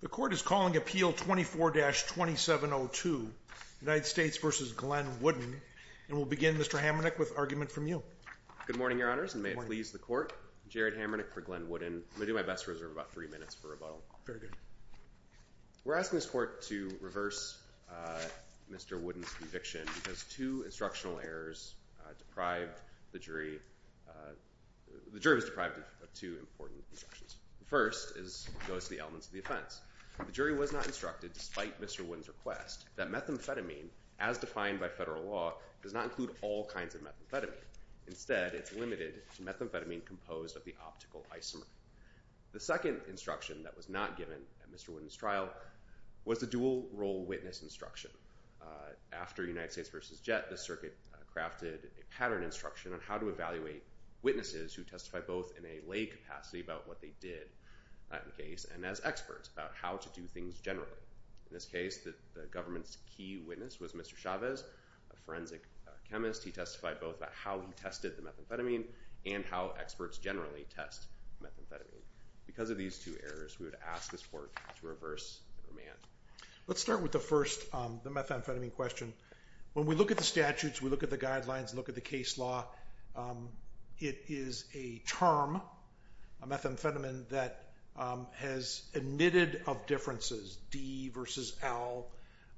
The Court is calling Appeal 24-2702, United States v. Glenn Wooden, and we'll begin, Mr. Hamernick, with argument from you. Good morning, Your Honors, and may it please the Court. Jared Hamernick for Glenn Wooden. I'm going to do my best to reserve about three minutes for rebuttal. Very good. We're asking this Court to reverse Mr. Wooden's conviction because two instructional errors deprived the jury—the jury was deprived of two important instructions. The first goes to the elements of the offense. The jury was not instructed, despite Mr. Wooden's request, that methamphetamine, as defined by federal law, does not include all kinds of methamphetamine. Instead, it's limited to methamphetamine composed of the optical isomer. The second instruction that was not given at Mr. Wooden's trial was the dual role witness instruction. After United States v. Jett, the circuit crafted a pattern instruction on how to evaluate witnesses who testify both in a lay capacity about what they did, not in the case, and as experts about how to do things generally. In this case, the government's key witness was Mr. Chavez, a forensic chemist. He testified both about how he tested the methamphetamine and how experts generally test methamphetamine. Because of these two errors, we would ask this Court to reverse the demand. Let's start with the first, the methamphetamine question. When we look at the statutes, we look at the guidelines, look at the case law, it is a term, a methamphetamine that has admitted of differences, D versus L.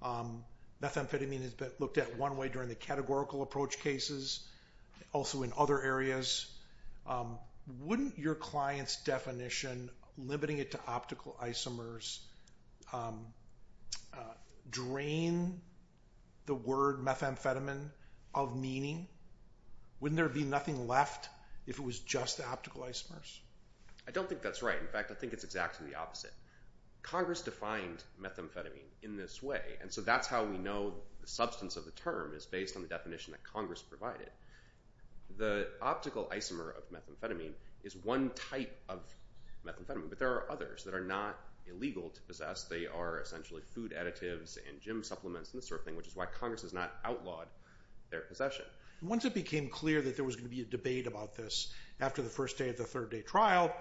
Methamphetamine has been looked at one way during the categorical approach cases, also in other areas. Wouldn't your client's definition, limiting it to optical isomers, drain the word methamphetamine of meaning? Wouldn't there be nothing left if it was just optical isomers? I don't think that's right. In fact, I think it's exactly the opposite. Congress defined methamphetamine in this way, and so that's how we know the substance of the term is based on the definition that Congress provided. The optical isomer of methamphetamine is one type of methamphetamine, but there are others that are not illegal to possess. They are essentially food additives and gym supplements and this sort of thing, which is why Congress has not outlawed their possession. Once it became clear that there was going to be a debate about this, after the first day of the third day trial,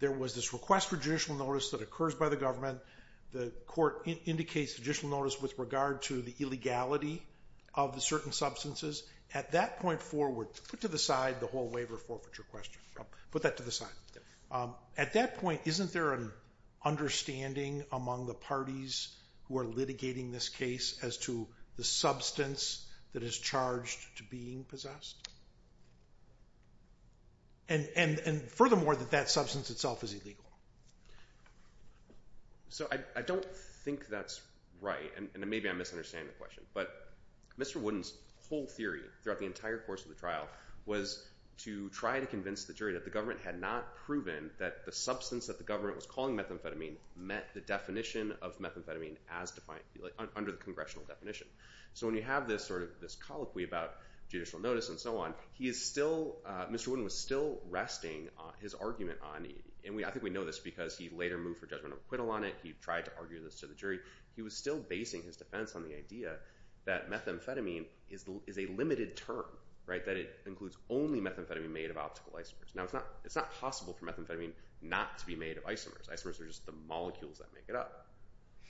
there was this request for judicial notice that occurs by the government. The court indicates judicial notice with regard to the illegality of the certain substances. At that point forward, put to the side the whole waiver forfeiture question. Put that to the side. At that point, isn't there an understanding among the parties who are litigating this case as to the substance that is charged to being possessed? And furthermore, that that substance itself is illegal. So I don't think that's right, and maybe I'm misunderstanding the question, but Mr. Wooden's whole theory throughout the entire course of the trial was to try to convince the jury that the government had not proven that the substance that the government was calling methamphetamine met the definition of methamphetamine as defined under the congressional definition. So when you have this sort of this colloquy about judicial notice and so on, he is still, Mr. Wooden was still resting his argument on, and I think we know this because he later moved for judgment of acquittal on it. He tried to argue this to the jury. He was still basing his defense on the idea that methamphetamine is a limited term, right? That it includes only methamphetamine made of optical isomers. Now it's not possible for methamphetamine not to be made of isomers. Isomers are just the molecules that make it up.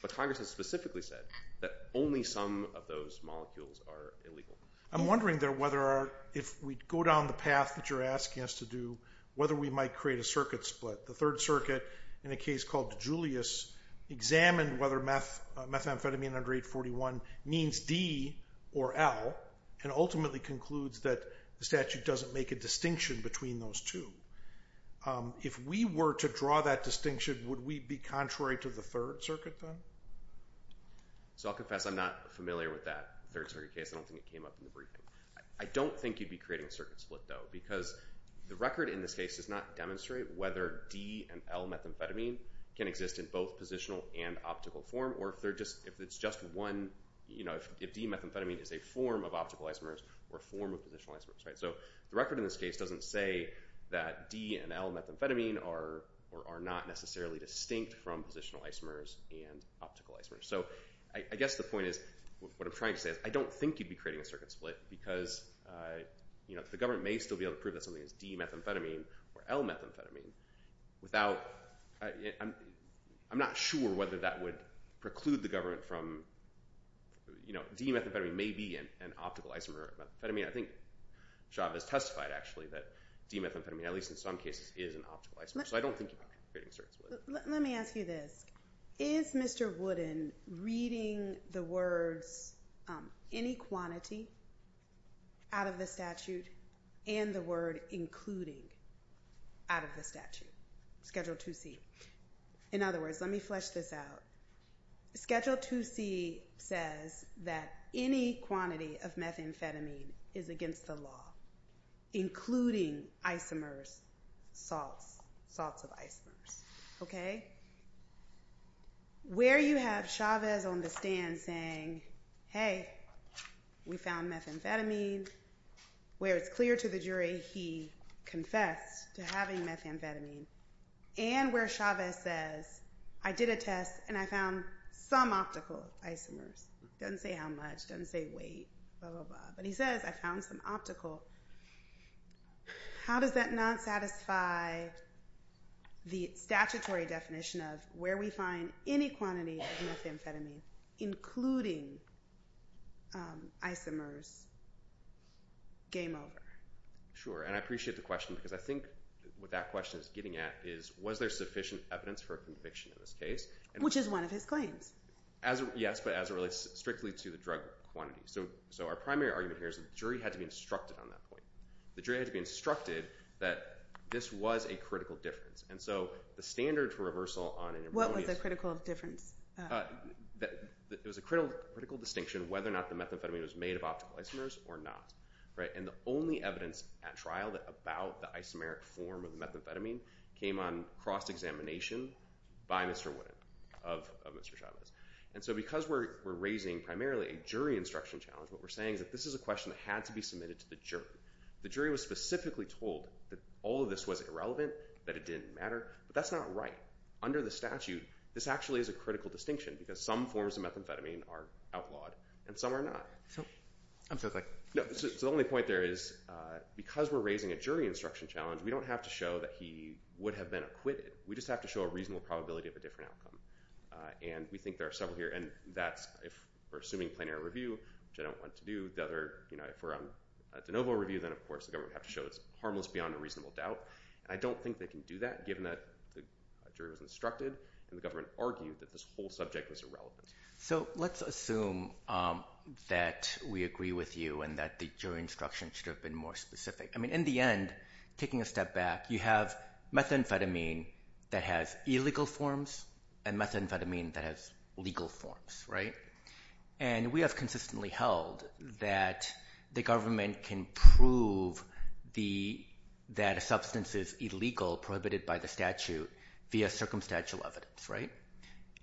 But Congress has specifically said that only some of those molecules are illegal. I'm wondering there whether if we go down the path that you're asking us to do, whether we might create a circuit split. The Third Circuit, in a case called Julius, examined whether methamphetamine under 841 means D or L, and ultimately concludes that the statute doesn't make a distinction between those two. If we were to draw that distinction, would we be contrary to the Third Circuit then? So I'll confess I'm not familiar with that Third Circuit case. I don't think it came up in the briefing. I don't think you'd be creating a circuit split though, because the record in this case does not demonstrate whether D and L methamphetamine can exist in both positional and optical form, or if it's just one, you know, if D methamphetamine is a form of optical isomers or a form of positional isomers, right? So the record in this case doesn't say that D and L methamphetamine are not necessarily distinct from positional isomers and optical isomers. So I guess the point is, what I'm trying to say is I don't think you'd be creating a circuit split because, you know, the government may still be able to prove that something is D methamphetamine or L methamphetamine without, I'm not sure whether that would preclude the government from, you know, D methamphetamine may be an optical isomer or methamphetamine. I think Java has testified actually that D methamphetamine, at least in some cases, is an optical isomer. So I don't think you'd be creating a circuit split. Let me ask you this. Is Mr. Wooden reading the words, any quantity out of the statute and the word including out of the statute, Schedule 2C? In other words, let me flesh this out. Schedule 2C says that any quantity of methamphetamine is against the law, including isomers, salts, salts of isomers, okay? Where you have Chavez on the stand saying, hey, we found methamphetamine, where it's clear to the jury he confessed to having methamphetamine, and where Chavez says, I did a test and I found some optical isomers, doesn't say how much, doesn't say weight, blah, blah, blah. But he says, I found some optical. How does that not satisfy the statutory definition of where we find any quantity of methamphetamine, including isomers, game over? Sure. And I appreciate the question because I think what that question is getting at is, was there sufficient evidence for a conviction in this case? Which is one of his claims. Yes, but as it relates strictly to the drug quantity. So our primary argument here is that the jury had to be instructed on that point. The jury had to be instructed that this was a critical difference. And so the standard for reversal on an erroneous... What was the critical difference? It was a critical distinction whether or not the methamphetamine was made of optical isomers or not, right? And the only evidence at trial about the isomeric form of methamphetamine came on cross-examination by Mr. Witten of Mr. Chavez. And so because we're raising primarily a jury instruction challenge, what we're saying is that this is a question that had to be submitted to the jury. The jury was specifically told that all of this was irrelevant, that it didn't matter. But that's not right. Under the statute, this actually is a critical distinction because some forms of methamphetamine are outlawed and some are not. So I'm just like... No, so the only point there is because we're raising a jury instruction challenge, we don't have to show that he would have been acquitted. We just have to show a reasonable probability of a different outcome. And we think there are several here. And that's if we're assuming plenary review, which I don't want to do, if we're on a de novo review, then of course the government would have to show it's harmless beyond a reasonable doubt. And I don't think they can do that given that the jury was instructed and the government argued that this whole subject was irrelevant. So let's assume that we agree with you and that the jury instruction should have been more specific. In the end, taking a step back, you have methamphetamine that has illegal forms and methamphetamine that has legal forms. And we have consistently held that the government can prove that a substance is illegal, prohibited by the statute, via circumstantial evidence.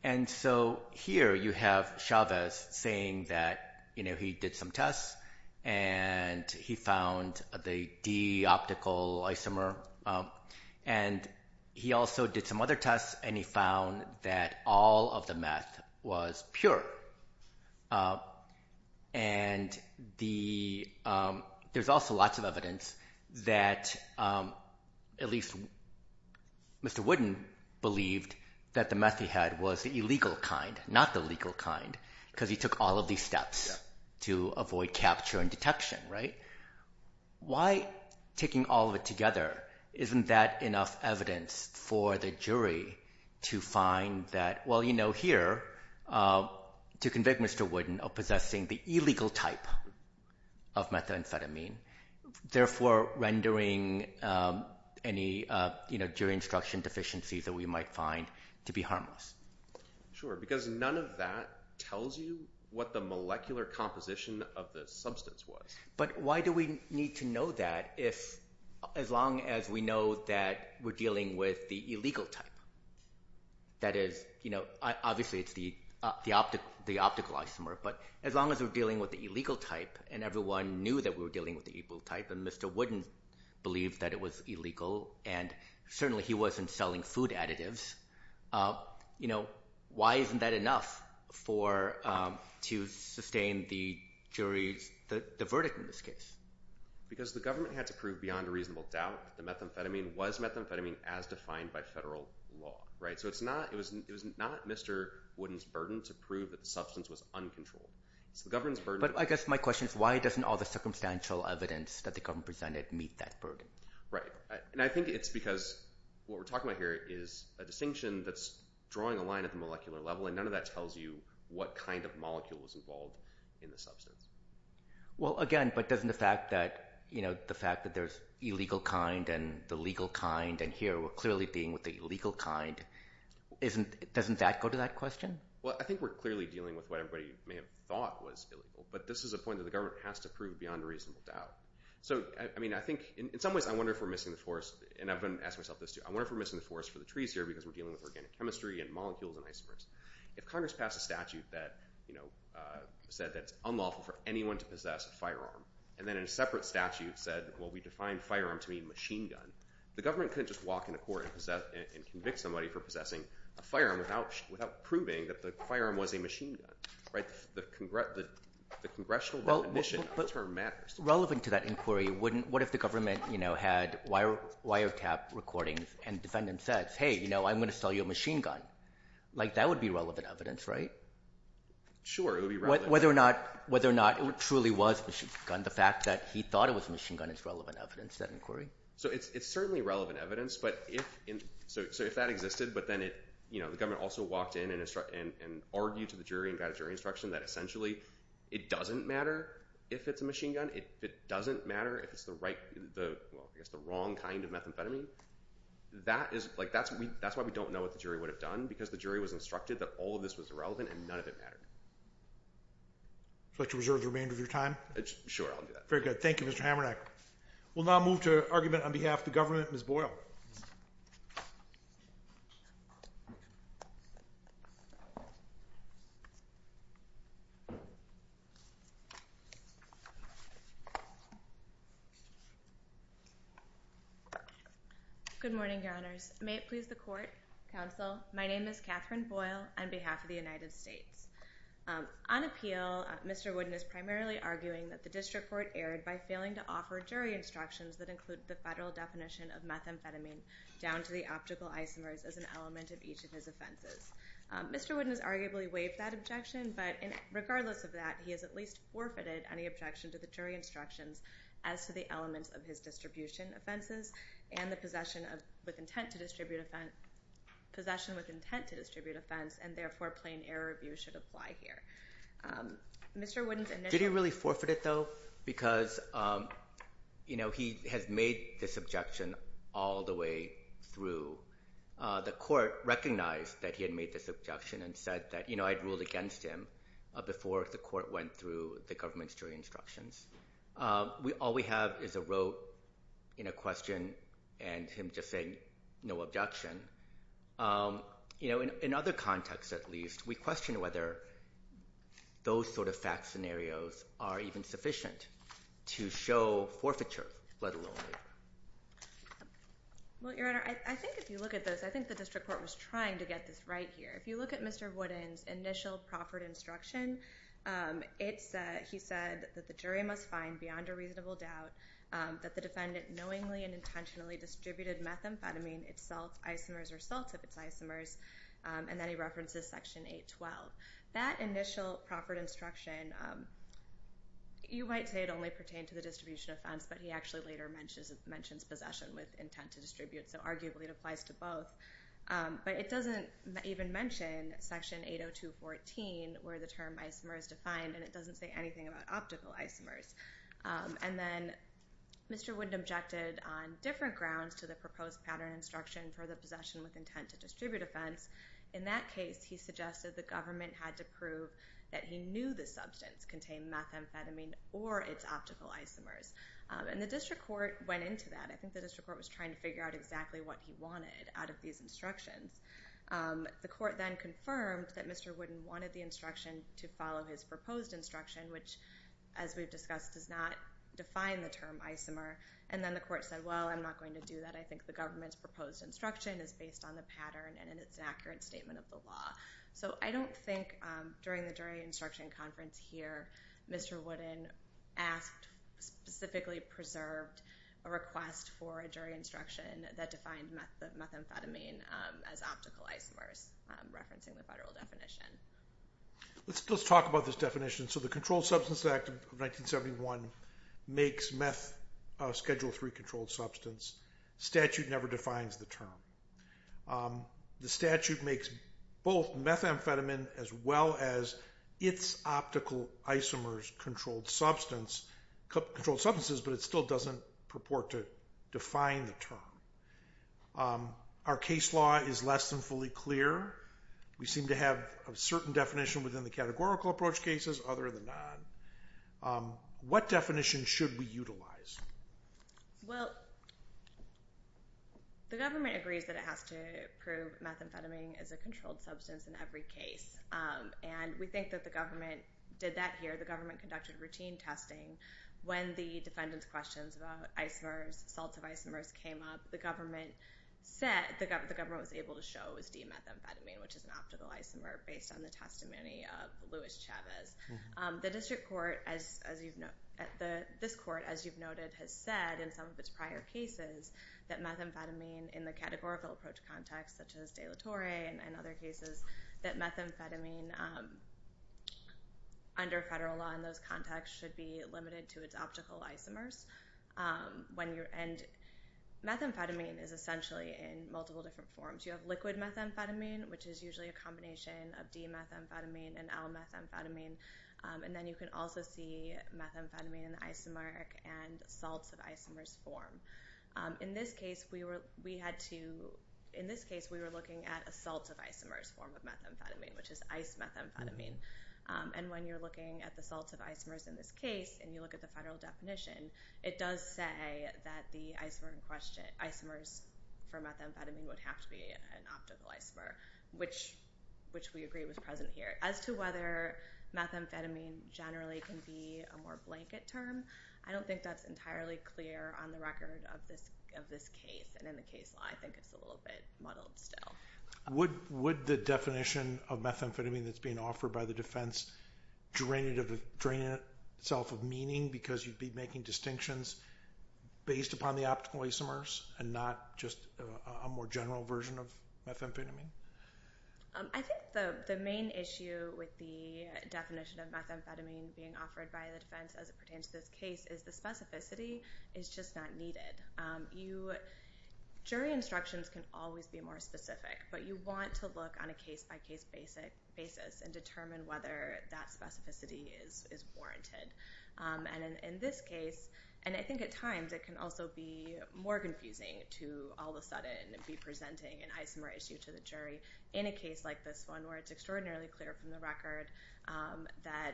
And so here you have Chavez saying that he did some tests and he found the D-optical isomer. And he also did some other tests and he found that all of the meth was pure. And there's also lots of evidence that at least Mr. Wooden believed that the meth he had was the illegal kind, not the legal kind, because he took all of these steps to avoid capture and detection, right? Why taking all of it together, isn't that enough evidence for the jury to find that, well, you know, here, to convict Mr. Wooden of possessing the illegal type of methamphetamine, therefore rendering any jury instruction deficiencies that we might find to be harmless. Sure, because none of that tells you what the molecular composition of the substance was. But why do we need to know that if, as long as we know that we're dealing with the illegal type, that is, you know, obviously it's the optical isomer, but as long as we're dealing with the illegal type and everyone knew that we were dealing with the illegal type and Mr. Wooden believed that it was illegal and certainly he wasn't selling food additives, you know, why isn't that enough for, to sustain the jury's, the verdict in this case? Because the government had to prove beyond a reasonable doubt that the methamphetamine was methamphetamine as defined by federal law, right? So it's not, it was not Mr. Wooden's burden to prove that the substance was uncontrolled. It's the government's burden. But I guess my question is why doesn't all the circumstantial evidence that the government presented meet that burden? Right. And I think it's because what we're talking about here is a distinction that's drawing a line at the molecular level and none of that tells you what kind of molecule was involved in the substance. Well, again, but doesn't the fact that, you know, the fact that there's illegal kind and the legal kind and here we're clearly being with the legal kind, isn't, doesn't that go to that question? Well, I think we're clearly dealing with what everybody may have thought was illegal, but this is a point that the government has to prove beyond a reasonable doubt. So I mean, I think in some ways I wonder if we're missing the forest and I've been asking myself this too. I wonder if we're missing the forest for the trees here because we're dealing with organic chemistry and molecules and isomers. If Congress passed a statute that, you know, said that it's unlawful for anyone to possess a firearm. And then in a separate statute said, well, we defined firearm to be machine gun. The government couldn't just walk into court and possess and convict somebody for possessing a firearm without, without proving that the firearm was a machine gun, right? The congress, the congressional term matters. Relevant to that inquiry. Wouldn't, what if the government, you know, had wire wire tap recordings and defendant says, Hey, you know, I'm going to sell you a machine gun like that would be relevant evidence, right? Sure. Whether or not, whether or not it truly was the fact that he thought it was machine gun is relevant evidence that inquiry. So it's, it's certainly relevant evidence, but if, so if that existed, but then it, you know, the government also walked in and instruct and argue to the jury and got a jury instruction that essentially it doesn't matter if it's a machine gun. It doesn't matter if it's the right, the wrong kind of methamphetamine that is like, that's what we, that's why we don't know what the jury would have done because the jury was instructed that all of this was irrelevant and none of it mattered, but to reserve the remainder of your time. Sure. I'll do that. Very good. Thank you. Mr. Hammer. We'll now move to argument on behalf of the government. Ms. Boyle. Good morning. Your honors. May it please the court. Counsel. My name is Catherine Boyle. On behalf of the United States, um, on appeal, Mr. Wooden is primarily arguing that the district court erred by failing to offer jury instructions that include the federal definition of methamphetamine down to the optical isomers as an element of each of his offenses. Mr. Wooden has arguably waived that objection, but regardless of that, he has at least forfeited any objection to the jury instructions as to the elements of his distribution offenses and the possession of, with intent to distribute offense, possession with intent to distribute offense, and therefore plain error review should apply here. Mr. Wooden's initial- Did he really forfeit it though? Because, um, you know, he has made this objection all the way through, uh, the court recognized that he had made this objection and said that, you know, I'd ruled against him, uh, before the court went through the government's jury instructions. Um, we, all we have is a rote, you know, question and him just saying no objection. Um, you know, in, in other contexts at least, we question whether those sort of fact scenarios are even sufficient to show forfeiture, let alone- Well, your honor, I, I think if you look at this, I think the district court was trying to get this right here. If you look at Mr. Wooden's initial proffered instruction, um, it's, uh, he said that the jury must find beyond a reasonable doubt, um, that the defendant knowingly and intentionally distributed methamphetamine, its salt isomers or salts of its isomers, um, and then he references section 812. That initial proffered instruction, um, you might say it only pertained to the distribution offense, but he actually later mentions, mentions possession with intent to distribute, so arguably it applies to both. Um, but it doesn't even mention section 802.14 where the term isomer is defined and it doesn't say anything about optical isomers, um, and then Mr. Wooden objected on different grounds to the proposed pattern instruction for the possession with intent to distribute offense. In that case, he suggested the government had to prove that he knew the substance contained methamphetamine or its optical isomers, um, and the district court went into that. I think the district court was trying to figure out exactly what he wanted out of these instructions. Um, the court then confirmed that Mr. Wooden wanted the instruction to follow his proposed instruction, which as we've discussed, does not define the term isomer, and then the court said, well, I'm not going to do that. I think the government's proposed instruction is based on the pattern and it's an accurate statement of the law. So I don't think, um, during the jury instruction conference here, Mr. Wooden asked, specifically preserved a request for a jury instruction that defined methamphetamine, um, as optical isomers, um, referencing the federal definition. Let's, let's talk about this definition. So the Controlled Substances Act of 1971 makes meth, uh, Schedule III controlled substance. Statute never defines the term. Um, the statute makes both methamphetamine as well as its optical isomers controlled substance, controlled substances, but it still doesn't purport to define the term. Um, our case law is less than fully clear. We seem to have a certain definition within the categorical approach cases other than non. Um, what definition should we utilize? Well, the government agrees that it has to prove methamphetamine as a controlled substance in every case. Um, and we think that the government did that here. The government conducted routine testing. When the defendant's questions about isomers, salts of isomers, came up, the government said, the government was able to show it was de-methamphetamine, which is an optical isomer based on the testimony of Louis Chavez. Um, the district court, as, as you've no, the, this court, as you've noted, has said in some of its prior cases that methamphetamine in the categorical approach context, such as De La Torre and other cases that methamphetamine, um, under federal law in those contexts should be limited to its optical isomers. Um, when you're, and methamphetamine is essentially in multiple different forms. You have liquid methamphetamine, which is usually a combination of de-methamphetamine and L-methamphetamine. Um, and then you can also see methamphetamine in isomeric and salts of isomers form. Um, in this case, we were, we had to, in this case, we were looking at a salts of isomers form of methamphetamine, which is ice methamphetamine. Um, and when you're looking at the salts of isomers in this case, and you look at the federal definition, it does say that the isomer in question, isomers for methamphetamine would have to be an optical isomer, which, which we agree was present here. As to whether methamphetamine generally can be a more blanket term, I don't think that's representative of this, of this case. And in the case law, I think it's a little bit muddled still. Would, would the definition of methamphetamine that's being offered by the defense drain it of, drain itself of meaning because you'd be making distinctions based upon the optical isomers and not just a more general version of methamphetamine? Um, I think the, the main issue with the definition of methamphetamine being offered by the defense as it pertains to this case is the specificity is just not needed. Um, you, jury instructions can always be more specific, but you want to look on a case-by-case basic basis and determine whether that specificity is, is warranted. Um, and in, in this case, and I think at times it can also be more confusing to all of a sudden be presenting an isomer issue to the jury in a case like this one where it's extraordinarily clear from the record, um, that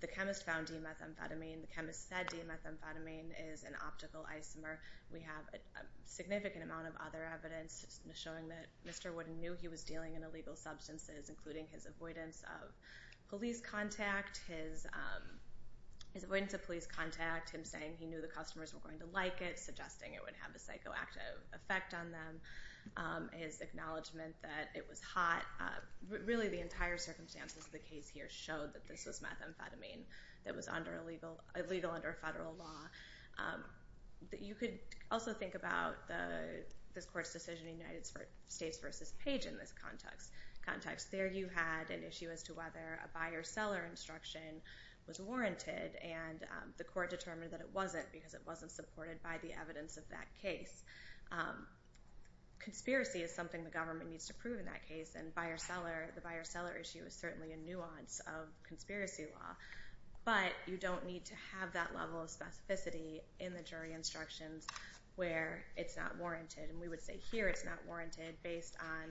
the chemist found D-methamphetamine, the chemist said D-methamphetamine is an optical isomer. We have a significant amount of other evidence showing that Mr. Wooden knew he was dealing in illegal substances, including his avoidance of police contact, his, um, his avoidance of police contact, him saying he knew the customers were going to like it, suggesting it would have a psychoactive effect on them. Um, his acknowledgement that it was hot, uh, really the entire circumstances of the case here showed that this was methamphetamine that was under illegal, illegal under federal law. Um, that you could also think about the, this court's decision in United States versus Page in this context, context there you had an issue as to whether a buyer seller instruction was warranted and, um, the court determined that it wasn't because it wasn't supported by the evidence of that case. Um, conspiracy is something the government needs to prove in that case and buyer seller, the buyer seller issue is certainly a nuance of conspiracy law, but you don't need to have that level of specificity in the jury instructions where it's not warranted. And we would say here it's not warranted based on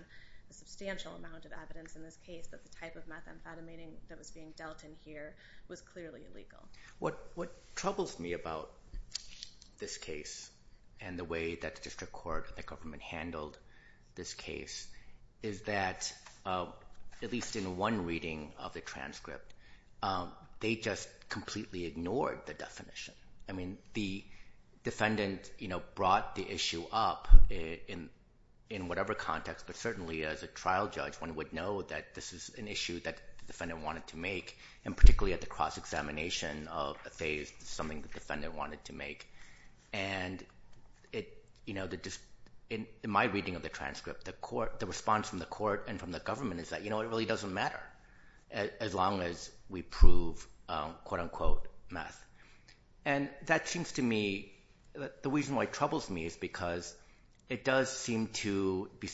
a substantial amount of evidence in this case that the type of methamphetamine that was being dealt in here was clearly illegal. Um, what, what troubles me about this case and the way that the district court, the government handled this case is that, uh, at least in one reading of the transcript, um, they just completely ignored the definition. I mean, the defendant, you know, brought the issue up in, in whatever context, but certainly as a trial judge, one would know that this is an issue that the defendant wanted to make and particularly at the cross examination of a phase, something that the defendant wanted to make. And it, you know, the dis in my reading of the transcript, the court, the response from the court and from the government is that, you know, it really doesn't matter as long as we prove, um, quote unquote math. And that seems to me that the reason why it troubles me is because it does seem to be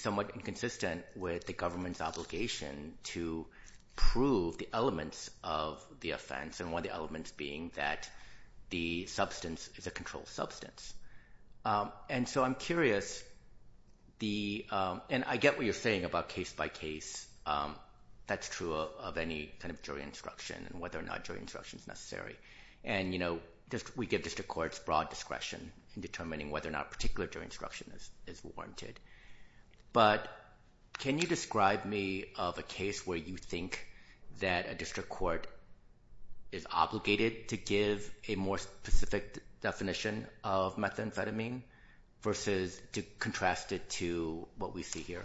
with the government's obligation to prove the elements of the offense. And one of the elements being that the substance is a controlled substance. Um, and so I'm curious the, um, and I get what you're saying about case by case. Um, that's true of any kind of jury instruction and whether or not jury instruction is necessary. And, you know, just, we give district courts broad discretion in determining whether or not particular jury instruction is, is warranted. But can you describe me of a case where you think that a district court is obligated to give a more specific definition of methamphetamine versus to contrast it to what we see here?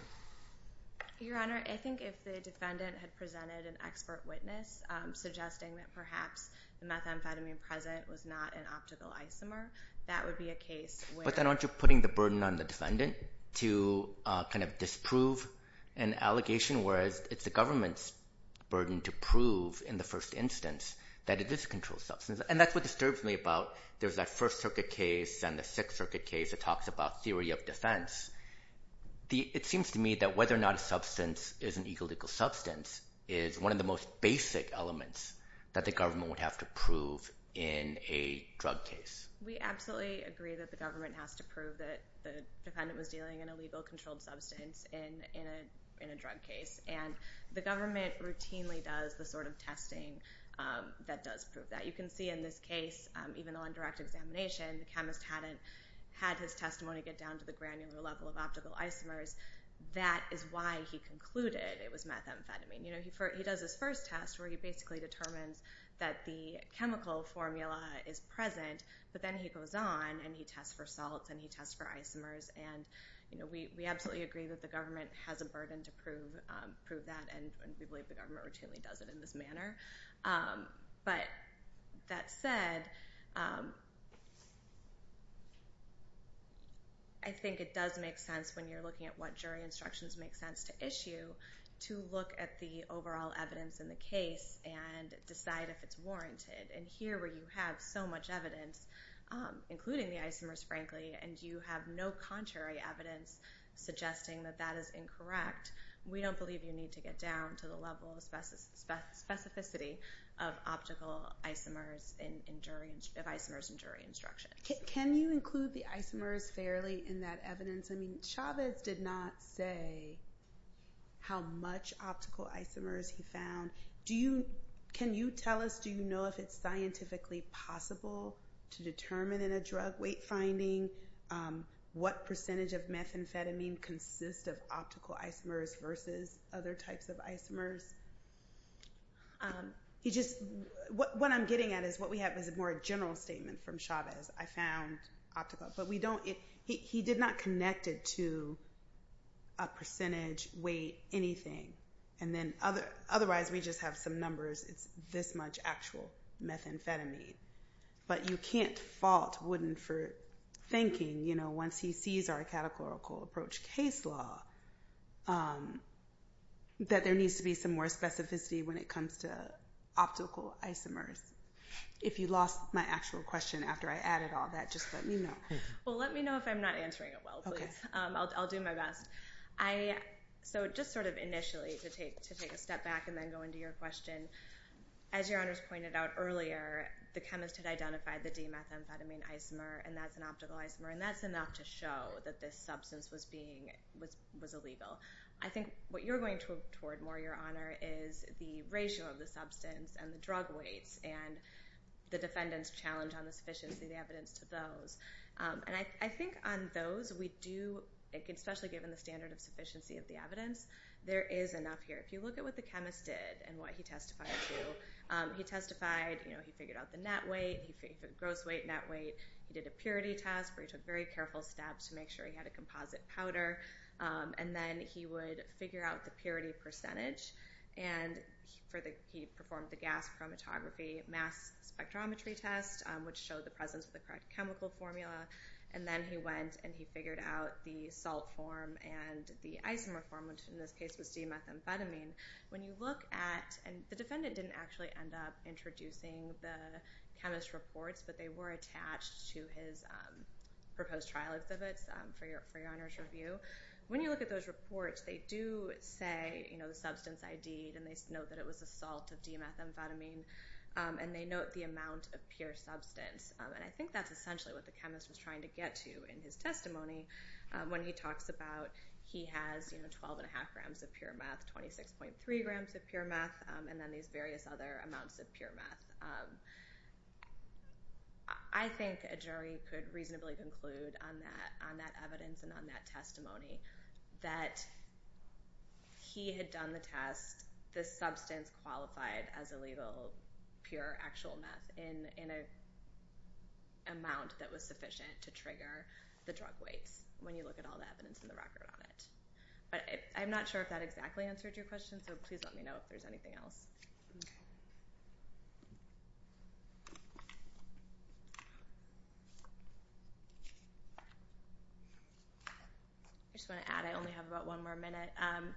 Your Honor, I think if the defendant had presented an expert witness, um, suggesting that perhaps the methamphetamine present was not an optical isomer, that would be a case where But then aren't you putting the burden on the defendant to, uh, kind of disprove an allegation, whereas it's the government's burden to prove in the first instance that it is a controlled substance. And that's what disturbs me about there's that First Circuit case and the Sixth Circuit case that talks about theory of defense. The, it seems to me that whether or not a substance is an illegal substance is one of the most basic elements that the government would have to prove in a drug case. We absolutely agree that the government has to prove that the defendant was dealing in a legal controlled substance in, in a, in a drug case. And the government routinely does the sort of testing, um, that does prove that. You can see in this case, um, even on direct examination, the chemist hadn't had his testimony get down to the granular level of optical isomers. That is why he concluded it was methamphetamine. You know, he does his first test where he basically determines that the chemical formula is present, but then he goes on and he tests for salts and he tests for isomers. And, you know, we, we absolutely agree that the government has a burden to prove, um, prove that and we believe the government routinely does it in this manner. Um, but that said, um, I think it does make sense when you're looking at what jury instructions make sense to issue to look at the overall evidence in the case and decide if it's warranted. And here where you have so much evidence, um, including the isomers, frankly, and you have no contrary evidence suggesting that that is incorrect, we don't believe you need to get down to the level of specificity of optical isomers in, in jury, of isomers in jury instructions. Can you include the isomers fairly in that evidence? I mean, Chavez did not say how much optical isomers he found. Do you, can you tell us, do you know if it's scientifically possible to determine in a drug weight finding, um, what percentage of methamphetamine consists of optical isomers versus other types of isomers? Um, he just, what I'm getting at is what we have is a more general statement from Chavez. I found optical, but we don't, he did not connect it to a percentage weight, anything. And then other, otherwise we just have some numbers. It's this much actual methamphetamine, but you can't fault Wooden for thinking, you know, once he sees our categorical approach case law, um, that there needs to be some more specificity when it comes to optical isomers. If you lost my actual question after I added all that, just let me know. Well, let me know if I'm not answering it well, please. Um, I'll, I'll do my best. Um, I, so just sort of initially to take, to take a step back and then go into your question, as your honors pointed out earlier, the chemist had identified the D methamphetamine isomer, and that's an optical isomer, and that's enough to show that this substance was being, was, was illegal. I think what you're going toward more, your honor, is the ratio of the substance and the drug weights and the defendant's challenge on the sufficiency of the evidence to those. Um, and I, I think on those we do, especially given the standard of sufficiency of the evidence, there is enough here. If you look at what the chemist did and what he testified to, um, he testified, you know, he figured out the net weight, gross weight, net weight. He did a purity test where he took very careful steps to make sure he had a composite powder. Um, and then he would figure out the purity percentage and for the, he performed the gas chromatography mass spectrometry test, um, which showed the presence of the correct chemical formula. And then he went and he figured out the salt form and the isomer form, which in this case was D methamphetamine. When you look at, and the defendant didn't actually end up introducing the chemist reports, but they were attached to his, um, proposed trial exhibits, um, for your, for your honors review. When you look at those reports, they do say, you know, the substance ID, then they note that it was a salt of D methamphetamine. Um, and they note the amount of pure substance. Um, and I think that's essentially what the chemist was trying to get to in his testimony. Um, when he talks about, he has, you know, 12 and a half grams of pure meth, 26.3 grams of pure meth, um, and then these various other amounts of pure meth. Um, I think a jury could reasonably conclude on that, on that evidence and on that testimony that he had done the test, the substance qualified as illegal pure actual meth in, in a amount that was sufficient to trigger the drug weights when you look at all the evidence in the record on it. But I'm not sure if that exactly answered your question, so please let me know if there's anything else. I just want to add, I only have about one more minute. Um,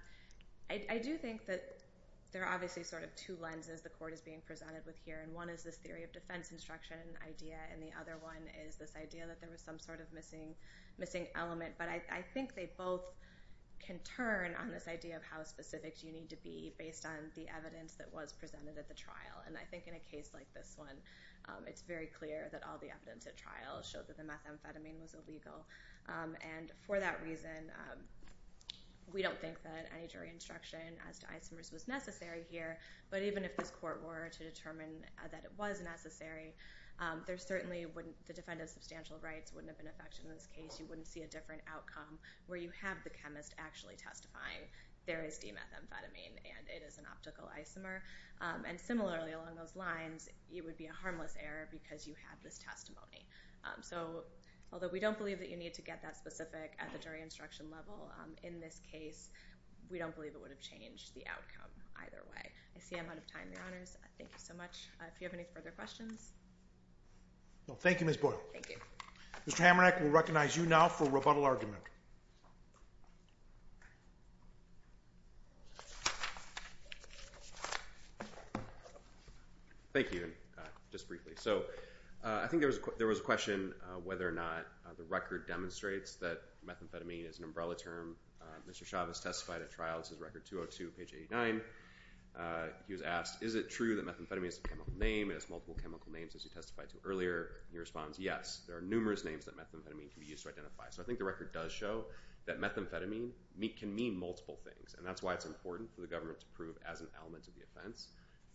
I, I do think that there are obviously sort of two lenses the court is being presented with here. And one is this theory of defense instruction idea and the other one is this idea that there was some sort of missing, missing element. But I, I think they both can turn on this idea of how specific you need to be based on the evidence that was presented at the trial. And I think in a case like this one, um, it's very clear that all the evidence at trial showed that the methamphetamine was illegal. Um, and for that reason, um, we don't think that any jury instruction as to isomers was necessary here, but even if this court were to determine that it was necessary, um, there certainly wouldn't, the defendant's substantial rights wouldn't have been affected in this case. You wouldn't see a different outcome where you have the chemist actually testifying there is de-methamphetamine and it is an optical isomer. Um, and similarly along those lines, it would be a harmless error because you have this testimony. Um, so although we don't believe that you need to get that specific at the jury instruction level, um, in this case, we don't believe it would have changed the outcome either way. I see I'm out of time, Your Honors. Thank you so much. Uh, if you have any further questions. Thank you, Ms. Boyle. Thank you. Mr. Hamernack, we'll recognize you now for rebuttal argument. Thank you. Just briefly. So, uh, I think there was a, there was a question, uh, whether or not the record demonstrates that methamphetamine is an umbrella term. Uh, Mr. Chavez testified at trial. This is record 202 page 89. Uh, he was asked, is it true that methamphetamine is a chemical name and has multiple chemical names as you testified to earlier? And he responds, yes, there are numerous names that methamphetamine can be used to identify. So I think the record does show that methamphetamine meet can mean multiple things. And that's why it's important for the government to prove as an element of the offense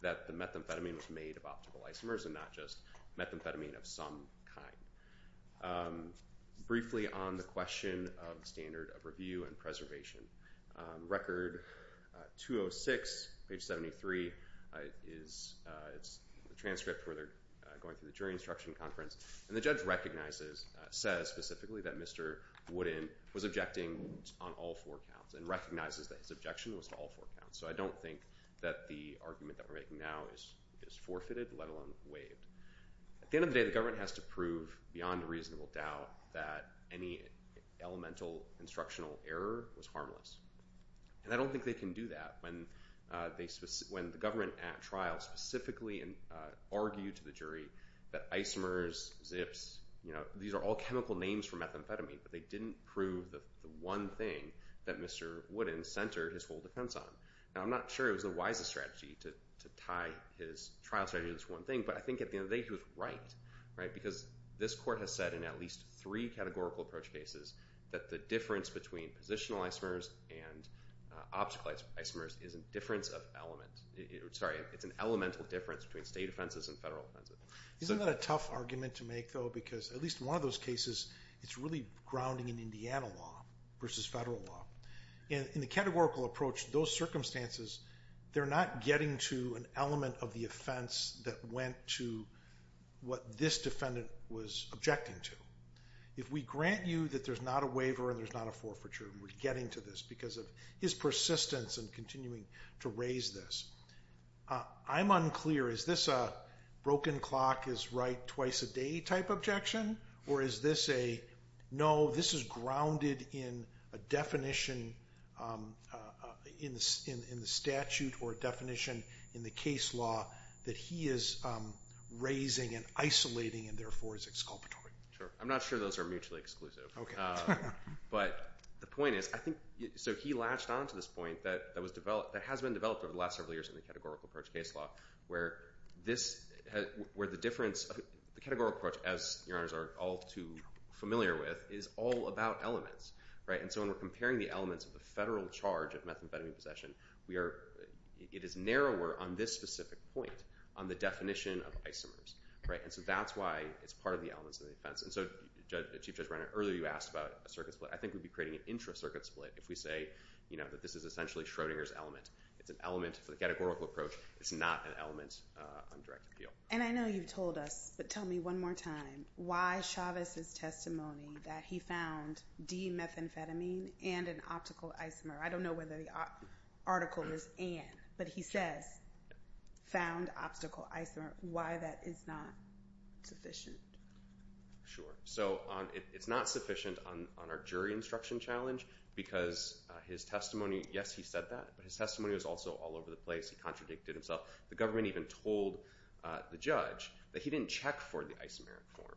that the methamphetamine was made of optical isomers and not just methamphetamine of some kind. Um, briefly on the question of standard of review and preservation, um, record, uh, 206 page 73, uh, is, uh, it's a transcript where they're going through the jury instruction conference and the judge recognizes, uh, says specifically that Mr. Wooden was objecting on all four counts and recognizes that his objection was to all four counts. So I don't think that the argument that we're making now is, is forfeited, let alone waived. At the end of the day, the government has to prove beyond a reasonable doubt that any elemental instructional error was harmless. And I don't think they can do that when, uh, they, when the government at trial specifically and, uh, argued to the jury that isomers, zips, you know, these are all chemical names for methamphetamine, but they didn't prove the one thing that Mr. Wooden centered his whole defense on. Now, I'm not sure it was the wisest strategy to, to tie his trial strategy to this one thing, but I think at the end of the day he was right, right? Because this court has said in at least three categorical approach cases that the difference between positional isomers and, uh, optical isomers is a difference of element. Sorry, it's an elemental difference between state offenses and federal offenses. Isn't that a tough argument to make though? Because at least one of those cases, it's really grounding in Indiana law versus federal law. In, in the categorical approach, those circumstances, they're not getting to an element of the offense that went to what this defendant was objecting to. If we grant you that there's not a waiver and there's not a forfeiture, we're getting to this because of his persistence and continuing to raise this. Uh, I'm unclear. Is this a broken clock is right twice a day type objection? Or is this a, no, this is grounded in a definition, um, uh, in the, in, in the statute or definition in the case law that he is, um, raising and isolating and therefore is exculpatory. Sure. I'm not sure those are mutually exclusive. Okay. Um, but the point is, I think, so he latched onto this point that, that was developed, that has been developed over the last several years in the categorical approach case law where this has, where the difference, the categorical approach as your honors are all too familiar with is all about elements, right? And so when we're comparing the elements of the federal charge of methamphetamine possession, we are, it is narrower on this specific point on the definition of isomers, right? And so that's why it's part of the elements of the defense. And so Judge, Chief Judge Brenner, earlier you asked about a circuit split. I think we'd be creating an intra circuit split if we say, you know, that this is essentially Schrodinger's element. It's an element for the categorical approach. It's not an element, uh, on direct appeal. And I know you've told us, but tell me one more time why Chavez's testimony that he found D methamphetamine and an optical isomer. I don't know whether the article is and, but he says found obstacle isomer. Why that is not sufficient. Sure. So on, it's not sufficient on, on our jury instruction challenge because his testimony, yes, he said that, but his testimony was also all over the place. He contradicted himself. The government even told the judge that he didn't check for the isomeric form.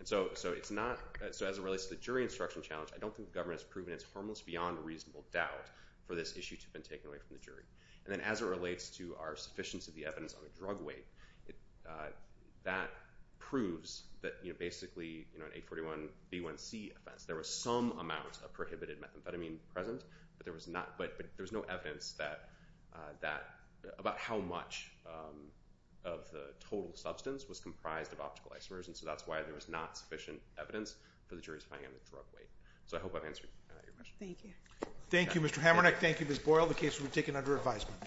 And so, so it's not, so as it relates to the jury instruction challenge, I don't think the government has proven it's harmless beyond reasonable doubt for this issue to have been taken away from the jury. And then as it relates to our sufficiency of the evidence on the drug weight, uh, that proves that, you know, basically, you know, an eight 41 B one C offense, there was some amount of prohibited methamphetamine present, but there was not, but there was no evidence that, uh, that about how much, um, of the total substance was comprised of optical isomers. And so that's why there was not sufficient evidence for the jury's finding on the drug weight. So I hope I've answered your question. Thank you. Thank you, Mr. Hamernick. Thank you, Ms. Boyle. The case will be taken under advisement.